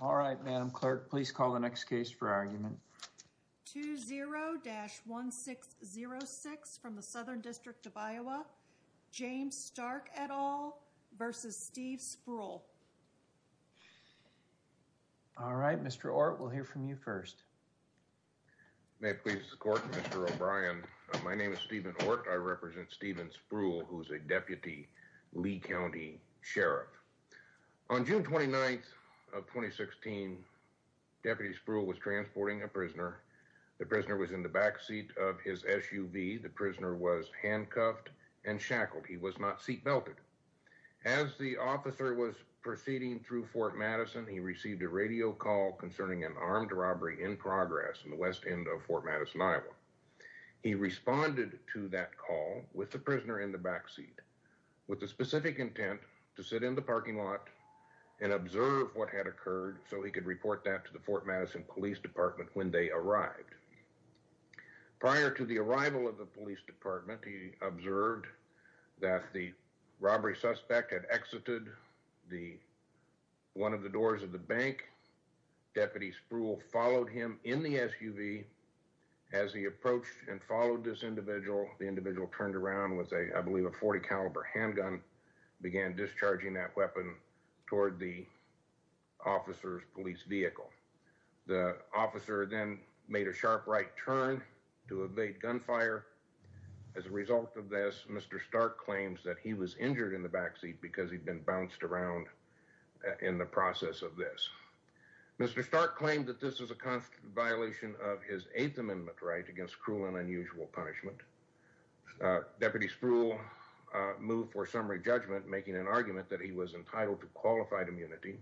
All right, Madam Clerk, please call the next case for argument. 20-1606 from the Southern District of Iowa, James Stark et al. v. Steve Sproul. All right, Mr. Ortt, we'll hear from you first. May it please the Court, Mr. O'Brien, my name is Steven Ortt. I represent Steven Sproul, who's a Deputy Lee County Sheriff. On June 29th of 2016, Deputy Sproul was transporting a prisoner. The prisoner was in the backseat of his SUV. The prisoner was handcuffed and shackled. He was not seat-belted. As the officer was proceeding through Fort Madison, he received a radio call concerning an armed robbery in progress in the west end of Fort Madison, Iowa. He responded to that call with the prisoner in the backseat with the specific intent to sit in the parking lot and observe what had occurred so he could report that to the Fort Madison Police Department when they arrived. Prior to the arrival of the Police Department, he observed that the robbery suspect had exited one of the doors of the bank. Deputy Sproul followed him in the SUV. As he approached and followed this individual, the individual turned around with, I believe, a .40 caliber handgun and began discharging that weapon toward the officer's police vehicle. The officer then made a sharp right turn to evade gunfire. As a result of this, Mr. Stark claims that he was injured in the backseat because he'd been bounced around in the process of this. Mr. Stark claimed that this was a constant violation of his Eighth Amendment right against cruel and unusual punishment. Deputy Sproul moved for summary judgment, making an argument that he was entitled to qualified immunity.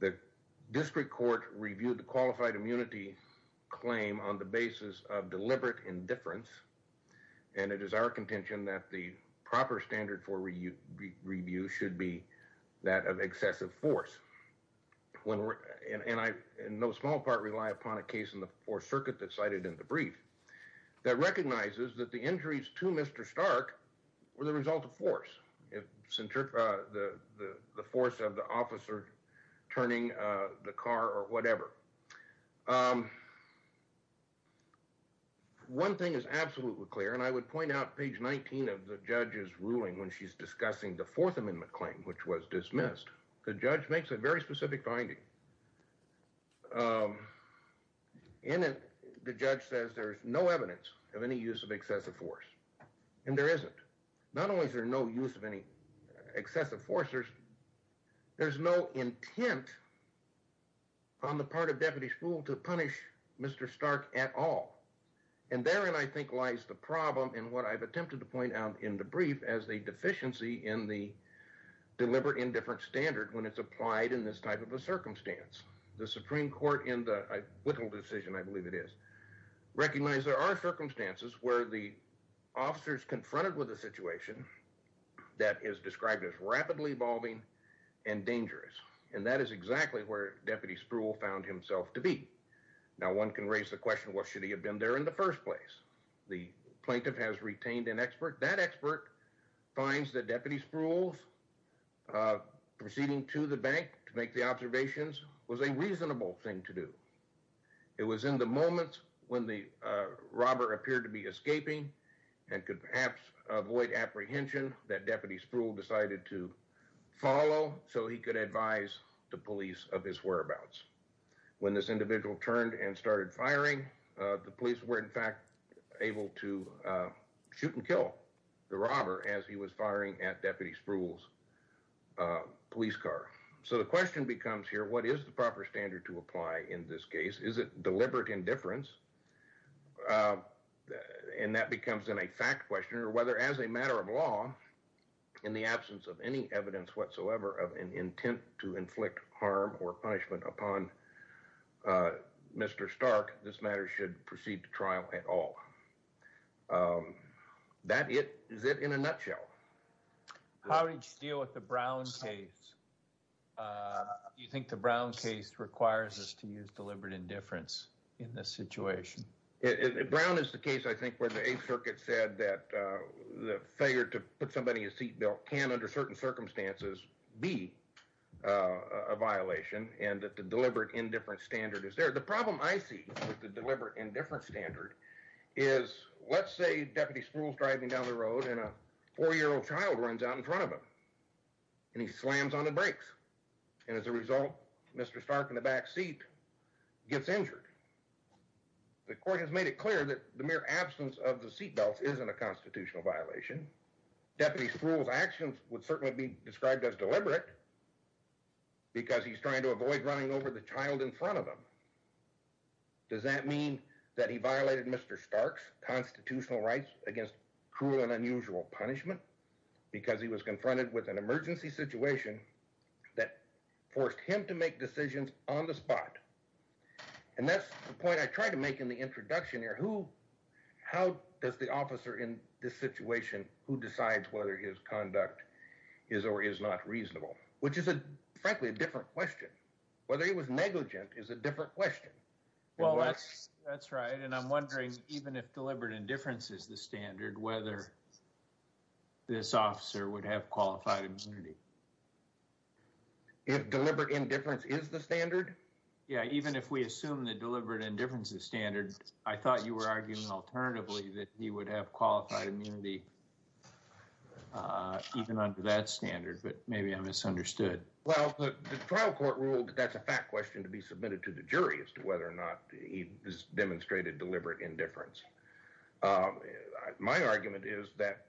The District Court reviewed the qualified immunity claim on the basis of deliberate indifference, and it is our contention that the proper standard for review should be that of excessive force. And I, in no small part, rely upon a case in the Fourth Circuit that cited in the brief that recognizes that the injuries to Mr. Stark were the result of force, the force of the officer turning the car or whatever. One thing is absolutely clear, and I would point out page 19 of the judge's ruling when she's a very specific finding. In it, the judge says there's no evidence of any use of excessive force, and there isn't. Not only is there no use of any excessive force, there's no intent on the part of Deputy Sproul to punish Mr. Stark at all. And therein, I think, lies the problem in what I've attempted to point out in the brief as the deficiency in the deliberate indifference standard when it's applied in this type of a circumstance. The Supreme Court in the Whittle decision, I believe it is, recognized there are circumstances where the officer is confronted with a situation that is described as rapidly evolving and dangerous, and that is exactly where Deputy Sproul found himself to be. Now, one can raise the question, well, should he have been there in the first place? The plaintiff has retained an expert. That expert finds that Deputy Sproul's proceeding to the bank to make the observations was a reasonable thing to do. It was in the moments when the robber appeared to be escaping and could perhaps avoid apprehension that Deputy Sproul decided to follow so he could advise the police of his whereabouts. When this individual turned and started firing, the police were, in fact, able to shoot and kill the robber as he was firing at Deputy Sproul's police car. So the question becomes here, what is the proper standard to apply in this case? Is it deliberate indifference? And that becomes then a fact question, or whether as a matter of law, in the absence of any evidence whatsoever of an intent to inflict harm or punishment upon Mr. Stark, this matter should proceed to trial at all. That is it in a nutshell. How did you deal with the Brown case? Do you think the Brown case requires us to use deliberate indifference in this situation? Brown is the case, I think, where the Eighth Circuit said that the failure to put somebody in a seat belt can, under certain circumstances, be a violation and that the deliberate indifference standard is there. The problem I see with the deliberate indifference standard is, let's say Deputy Sproul's driving down the road and a four-year-old child runs out in front of him and he slams on the brakes. And as a result, Mr. Stark in the back seat gets injured. The court has made it clear that the mere absence of the seat belts isn't a constitutional violation. Deputy Sproul's actions would certainly be described as deliberate because he's trying to avoid running over the child in front of him. Does that mean that he violated Mr. Stark's constitutional rights against cruel and unusual punishment because he was confronted with an emergency situation that forced him to make decisions on the spot? And that's the point I tried to make in the introduction here. How does the officer in this situation, who decides whether his conduct is or is not reasonable? Which is, frankly, a different question. Whether he was negligent is a different question. Well, that's right. And I'm wondering, even if deliberate indifference is the standard, whether this officer would have qualified immunity. If deliberate indifference is the standard? Yeah, even if we assume that deliberate indifference is standard, I thought you were arguing alternatively that he would have qualified immunity even under that standard, but maybe I misunderstood. Well, the trial court ruled that that's a fact question to be submitted to the jury as to whether or not he demonstrated deliberate indifference. My argument is that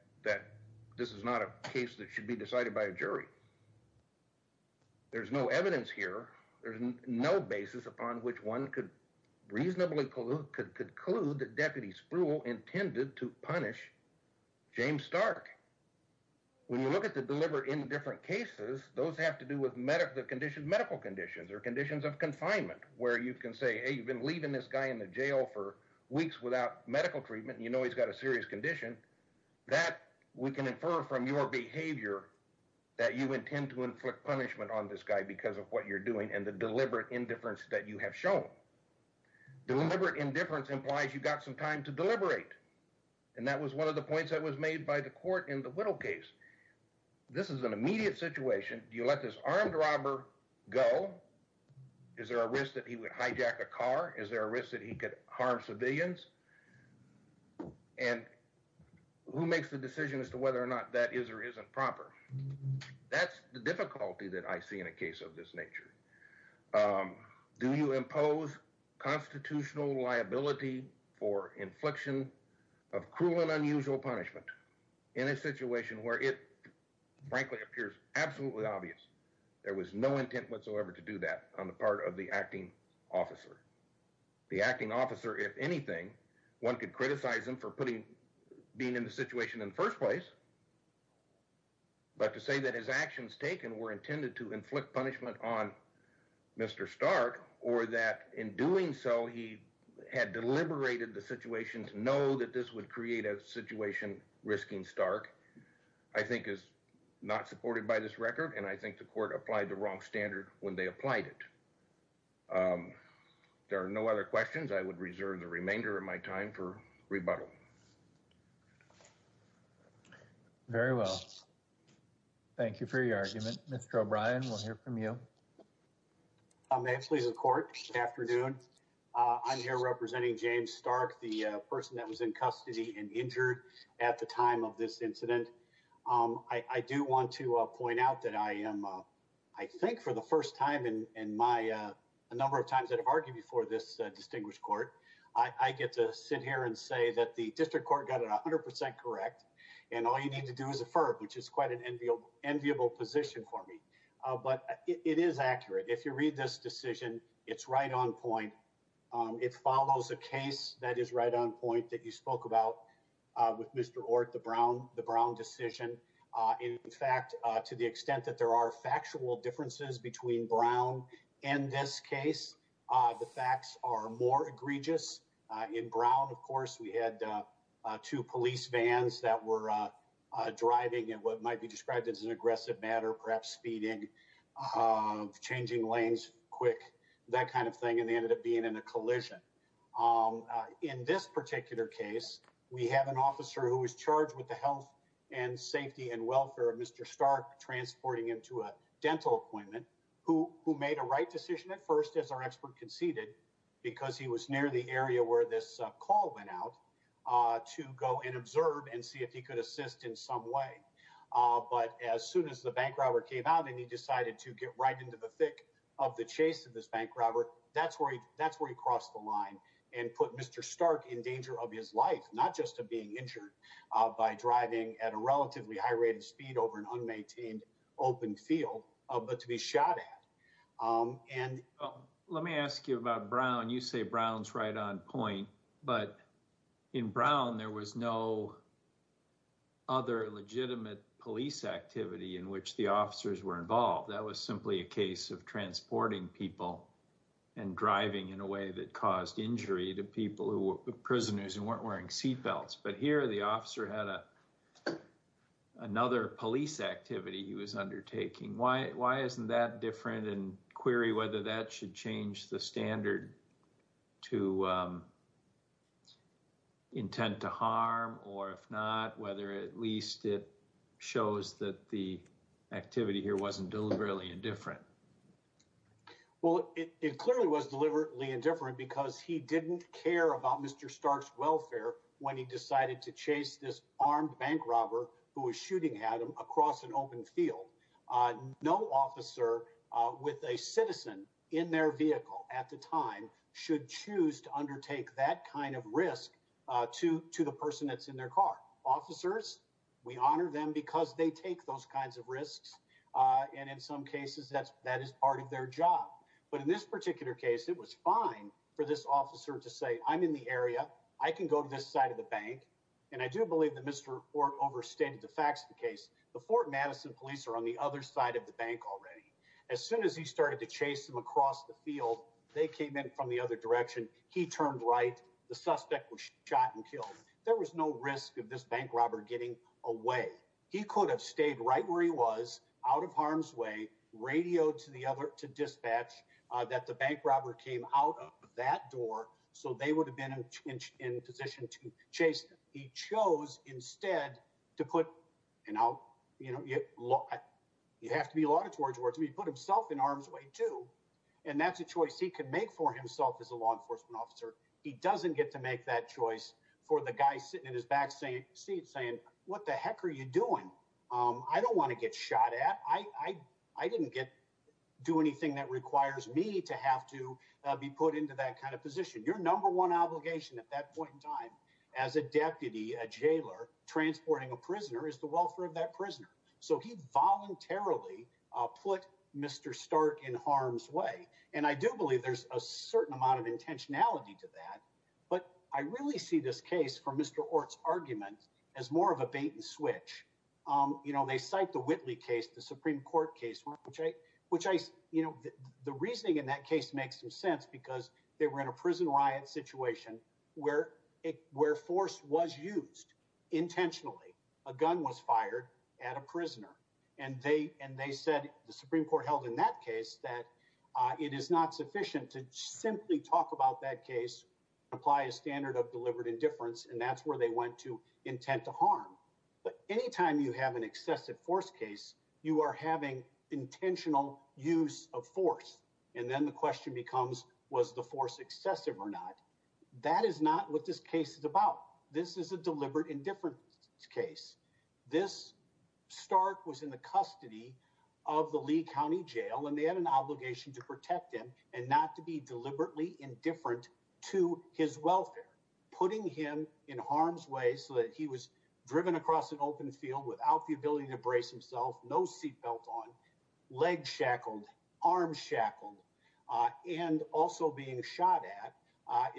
this is not a case that should be decided by a jury. There's no evidence here. There's no basis upon which one could reasonably conclude that Deputy Spruill intended to punish James Stark. When you look at the deliberate indifference cases, those have to do with medical conditions or conditions of confinement, where you can say, hey, you've been leaving this guy in the jail for weeks without medical treatment, and you know he's got a serious condition. That we can infer from your behavior that you intend to inflict punishment on this guy because of what you're doing and the deliberate indifference that you have shown. Deliberate indifference implies you've got some time to deliberate, and that was one of the points that was made by the court in the Whittle case. This is an immediate situation. Do you let this armed robber go? Is there a risk that he would hijack a car? Is there a risk that he could harm civilians? And who makes the decision as to whether or not that is or isn't proper? That's the difficulty that I see in a case of this nature. Do you impose constitutional liability for infliction of cruel and unusual punishment in a situation where it, frankly, appears absolutely obvious there was no intent whatsoever to do that on the part of the acting officer? The acting officer, if anything, one could criticize him for being in the situation in the first place, but to say that his actions taken were Mr. Stark or that in doing so he had deliberated the situation to know that this would create a situation risking Stark I think is not supported by this record, and I think the court applied the wrong standard when they applied it. There are no other questions. I would reserve the remainder of my time for rebuttal. Very well. Thank you for your argument. Mr. O'Brien, we'll hear from you. May it please the court, good afternoon. I'm here representing James Stark, the person that was in custody and injured at the time of this incident. I do want to point out that I am, I think for the first time in my, a number of times that I've argued before this distinguished court, I get to sit here and say that the district court got it 100% correct, and all you need to do is affirm, which is quite an enviable position for me, but it is accurate. If you read this decision, it's right on point. It follows a case that is right on point that you spoke about with Mr. Ortt, the Brown decision. In fact, to the extent that there are factual differences between Brown and this case, the facts are more egregious. In Brown, of course, we had two police vans that were driving in what might be described as an aggressive manner, perhaps speeding, changing lanes quick, that kind of thing, and they ended up being in a collision. In this particular case, we have an officer who was charged with the health and safety and welfare of Mr. Stark, transporting him to a dental appointment, who made a right where this call went out to go and observe and see if he could assist in some way. But as soon as the bank robber came out and he decided to get right into the thick of the chase of this bank robber, that's where he crossed the line and put Mr. Stark in danger of his life, not just of being injured by driving at a relatively high rate of speed over an unmaintained open field, but to be shot at. Let me ask you about Brown. You say Brown's right on point, but in Brown, there was no other legitimate police activity in which the officers were involved. That was simply a case of transporting people and driving in a way that caused injury to people who were prisoners and weren't wearing seatbelts. But here, the officer had another police activity he was undertaking. Why isn't that different? And query whether that should change the standard to intent to harm, or if not, whether at least it shows that the activity here wasn't deliberately indifferent. Well, it clearly was deliberately indifferent because he didn't care about Mr. Stark's welfare when he decided to chase this armed bank robber who was at the time, should choose to undertake that kind of risk to the person that's in their car. Officers, we honor them because they take those kinds of risks, and in some cases, that is part of their job. But in this particular case, it was fine for this officer to say, I'm in the area, I can go to this side of the bank, and I do believe that Mr. Orr overstated the facts of the case. The Fort Madison police are on the other side of the bank already. As soon as he started to chase him across the field, they came in from the other direction. He turned right, the suspect was shot and killed. There was no risk of this bank robber getting away. He could have stayed right where he was, out of harm's way, radioed to dispatch, that the bank robber came out of that door, so they would have been in position to chase him. He chose instead to put, you know, look, you have to be laudatory towards him, he put himself in harm's way too, and that's a choice he could make for himself as a law enforcement officer. He doesn't get to make that choice for the guy sitting in his back seat saying, what the heck are you doing? I don't want to get shot at. I didn't get to do anything that requires me to have to be put into that kind of position. Your number one obligation at that point in time as a deputy, a jailer, transporting a prisoner. So he voluntarily put Mr. Stark in harm's way, and I do believe there's a certain amount of intentionality to that, but I really see this case from Mr. Ortt's argument as more of a bait and switch. You know, they cite the Whitley case, the Supreme Court case, which I, you know, the reasoning in that case makes some sense, because they were in a prison riot situation where force was used intentionally. A gun was fired at a prisoner, and they said, the Supreme Court held in that case that it is not sufficient to simply talk about that case, apply a standard of deliberate indifference, and that's where they went to intent to harm. But any time you have an excessive force case, you are having intentional use of force, and then the question becomes, was the force excessive or not? That is not what this case is about. This is a deliberate indifference case. This Stark was in the custody of the Lee County Jail, and they had an obligation to protect him and not to be deliberately indifferent to his welfare, putting him in harm's way so that he was driven across an open field without the ability to brace himself, no seatbelt on, legs shackled, arms shackled, and also being shot at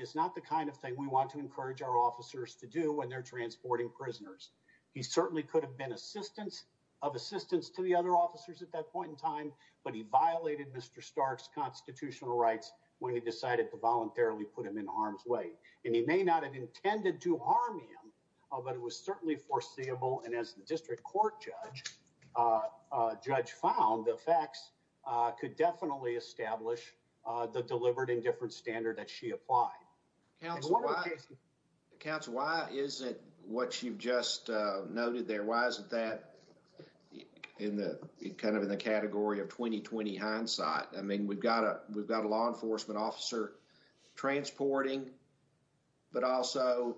is not the kind of thing we want to encourage our officers to do when they're transporting prisoners. He certainly could have been assistance of assistance to the other officers at that point in time, but he violated Mr. Stark's constitutional rights when he decided to voluntarily put him in harm's way. And he may not have intended to harm him, but it was certainly foreseeable, and as the district court judge found, the facts could definitely establish the deliberate indifference standard that she applied. Council, why isn't what you've just noted there, why isn't that kind of in the category of 20-20 hindsight? I mean, we've got a law enforcement officer transporting, but also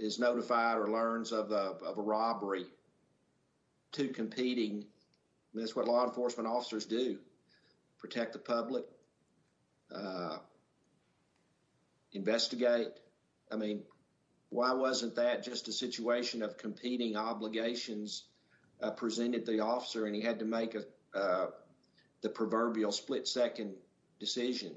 is notified or learns of a robbery to competing, and that's what law enforcement officers do, protect the public, investigate. I mean, why wasn't that just a situation of competing obligations presented the officer, and he had to make the proverbial split-second decision?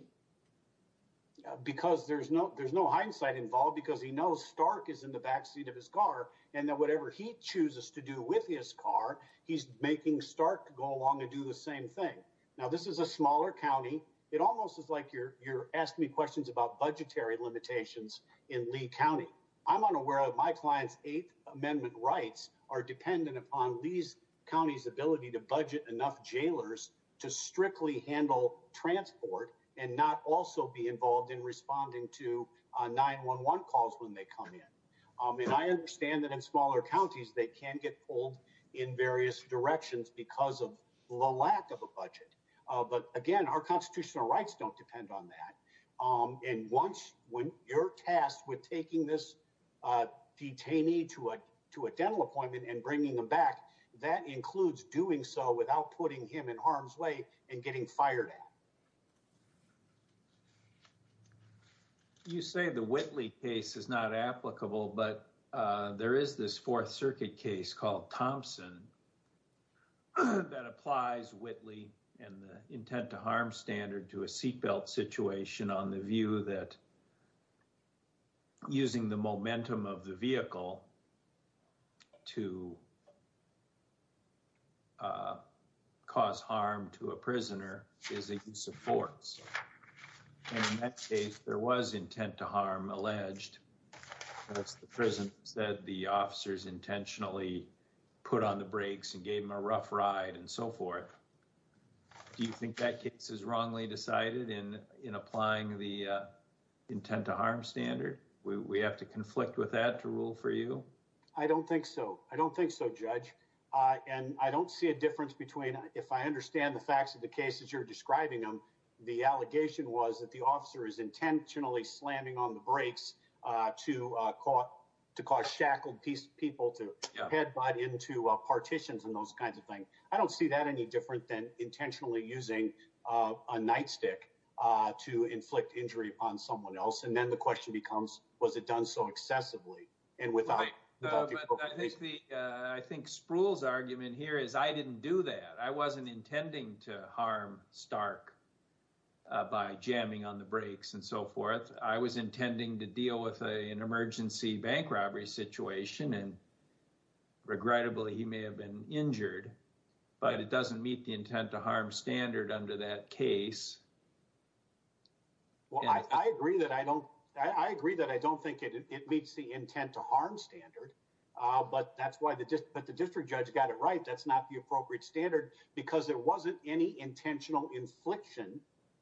Because there's no hindsight involved, because he knows Stark is in the backseat of his car, and that whatever he chooses to do with his car, he's making Stark go along and do the same thing. Now, this is a smaller county. It almost is like you're asking me questions about budgetary rights are dependent upon these counties' ability to budget enough jailers to strictly handle transport and not also be involved in responding to 911 calls when they come in. And I understand that in smaller counties, they can get pulled in various directions because of the lack of a budget. But again, our constitutional rights don't depend on that. And once when you're tasked with taking this detainee to a dental appointment and bringing them back, that includes doing so without putting him in harm's way and getting fired at. You say the Whitley case is not applicable, but there is this Fourth Circuit case called Thompson that applies Whitley and the intent to harm standard to a seatbelt situation on the view that using the momentum of the vehicle to cause harm to a prisoner is a use of force. And in that case, there was intent to harm alleged. That's the prison said the officers intentionally put on the brakes and gave him a rough ride and so forth. Do you think that case is wrongly decided in applying the intent to harm standard? We have to conflict with that to rule for you? I don't think so. I don't think so, Judge. And I don't see a difference between if I understand the facts of the cases you're describing them, the allegation was that the officer is intentionally slamming on the brakes to cause shackled people to headbutt into partitions and those kinds of things. I don't see that any different than intentionally using a nightstick to inflict injury on someone else. And then the question becomes, was it done so excessively and without? I think the I think Sproul's argument here is I didn't do that. I wasn't intending to harm Stark by jamming on the brakes and so forth. I was intending to deal with an emergency bank robbery situation and regrettably, he may have been injured, but it doesn't meet the intent to harm standard under that case. Well, I agree that I don't I agree that I don't think it meets the intent to harm standard, but that's why the district but the district judge got it right. That's not the appropriate standard because there wasn't any intentional infliction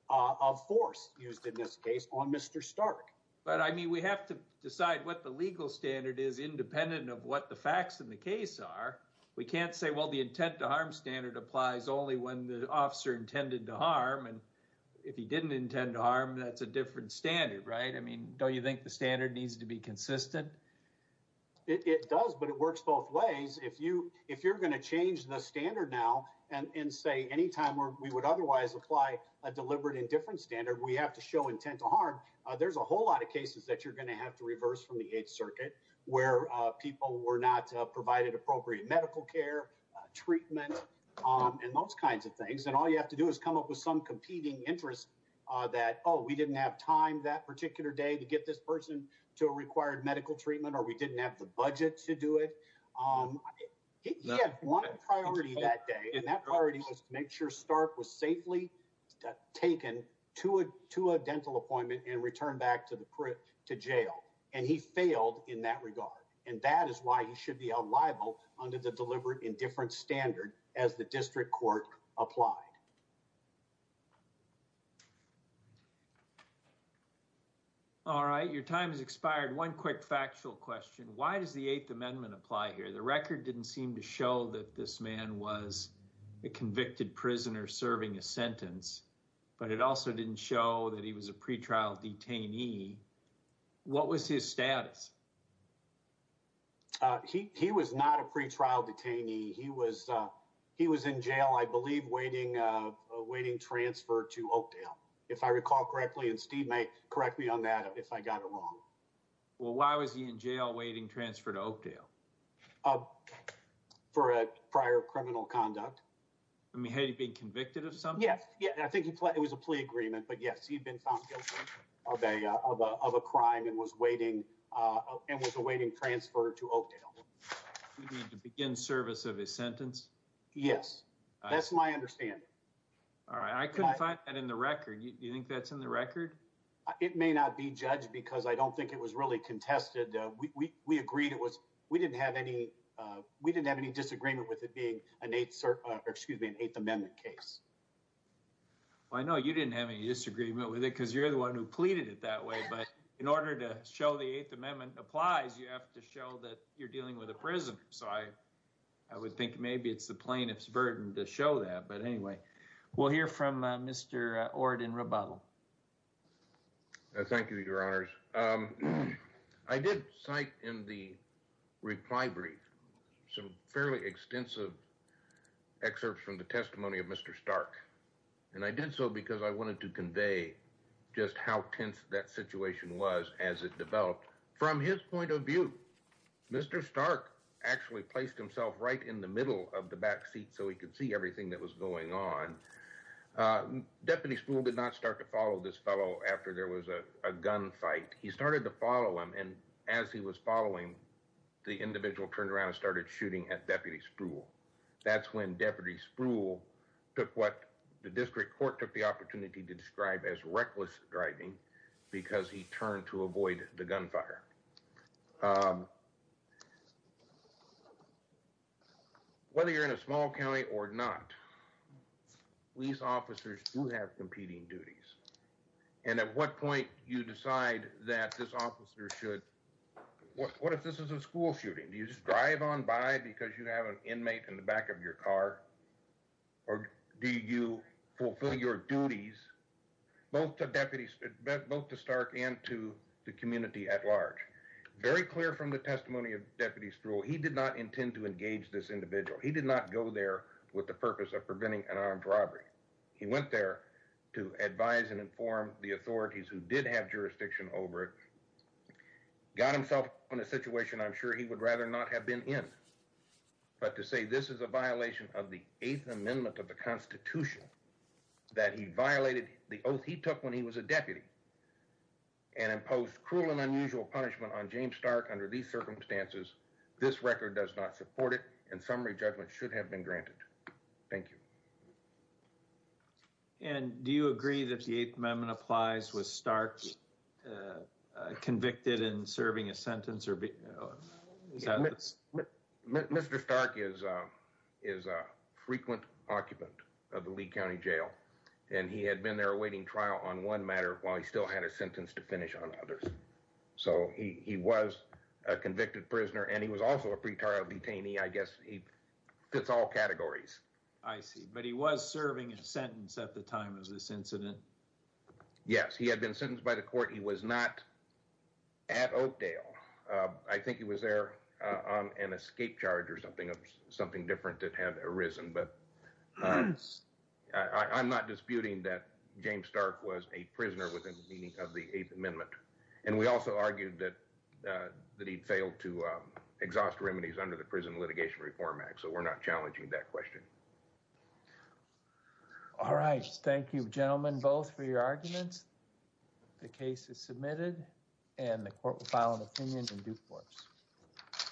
of force used in this case on Mr. Stark. But I mean, we have to decide what the legal standard is independent of what the facts in the case are. We can't say, well, the intent to harm standard applies only when the officer intended to harm. And if he didn't intend to harm, that's a different standard, right? I mean, don't you think the standard needs to be consistent? It does, but it works both ways. If you are going to change the standard now and say anytime we would otherwise apply a deliberate indifference standard, we have to show intent to harm. There's a whole lot of cases that you're going to have to reverse from the 8th Circuit where people were not provided appropriate medical care, treatment and those kinds of things. And all you have to do is come up with some competing interest that, oh, we didn't have time that particular day to get this person to a required medical treatment or we didn't have the budget to do it. He had one priority that day and that priority was to make sure Stark was safely taken to a dental appointment and returned back to jail. And he failed in that regard. And that is why he should be liable under the deliberate indifference standard as the district court applied. All right. Your time has expired. One quick factual question. Why does the 8th Amendment apply here? The record didn't seem to show that this man was a convicted prisoner serving a sentence, but it also didn't show that he was a pretrial detainee. What was his status? He was not a pretrial detainee. He was in jail, I believe, awaiting transfer to Oakdale, if I recall correctly. And Steve may correct me on that if I got it wrong. Well, why was he in jail awaiting transfer to Oakdale? For a prior criminal conduct. I mean, had he been convicted of something? Yes, yes. I think it was a plea agreement. But yes, he'd been found guilty of a crime and was awaiting transfer to Oakdale. He needed to begin service of his sentence? Yes. That's my understanding. All right. I couldn't find that in the record. You think that's in the record? It may not be, Judge, because I don't think it was really contested. We agreed it was. We didn't have any disagreement with it being an 8th Amendment case. Well, I know you didn't have any disagreement with it because you're the one who pleaded it that way. But in order to show the 8th Amendment applies, you have to show that you're dealing with a prisoner. So I would think maybe it's the plaintiff's burden to show that. But anyway, we'll hear from Mr. Ord in rebuttal. Thank you, Your Honors. I did cite in the reply brief some fairly extensive excerpts from the testimony of Mr. Stark. And I did so because I wanted to convey just how tense that situation was as it developed. From his point of view, Mr. Stark actually placed himself right in the middle of the back seat so he could see everything that was going on. Deputy Spruill did not start to follow this fellow after there was a gun fight. He started to follow him. And as he was following, the individual turned around and started shooting at Deputy Spruill. That's when Deputy Spruill took what the district court took the opportunity to describe as reckless driving because he turned to avoid the gunfire. Whether you're in a small county or not, police officers do have competing duties. And at what point you decide that this officer should, what if this is a school shooting? Do you just drive on by because you have an inmate in the back of your car? Or do you fulfill your duties both to Stark and to the community at large? Very clear from the testimony of Deputy Spruill, he did not intend to engage this individual. He did not go there with the purpose of preventing an armed robbery. He went there to advise and inform the authorities who did have jurisdiction over it. Got himself in a situation I'm sure he would rather not have been in. But to say this is a violation of the Eighth Amendment of the Constitution, that he violated the oath he took when he was a deputy and imposed cruel and unusual punishment on James Stark under these circumstances, this record does not support it and summary judgment should have been granted. Thank you. And do you agree that the Eighth Amendment applies with Stark's convicted in serving a sentence? Mr. Stark is a frequent occupant of the Lee County Jail and he had been there awaiting trial on one matter while he still had a sentence to finish on others. So he was a convicted prisoner and he was also a pretrial detainee. I guess he fits all categories. I see, but he was serving a sentence at the time of this incident. Yes, he had been sentenced by the court. He was not at Oakdale. I think he was there on an escape charge or something of something different that had arisen. But I'm not disputing that James Stark was a prisoner within the meaning of the Eighth Amendment. And we also argued that he'd failed to exhaust remedies under the Prison Litigation Reform Act. So we're not challenging that question. All right. Thank you, gentlemen, both for your arguments. The case is submitted and the court will file an opinion in due course.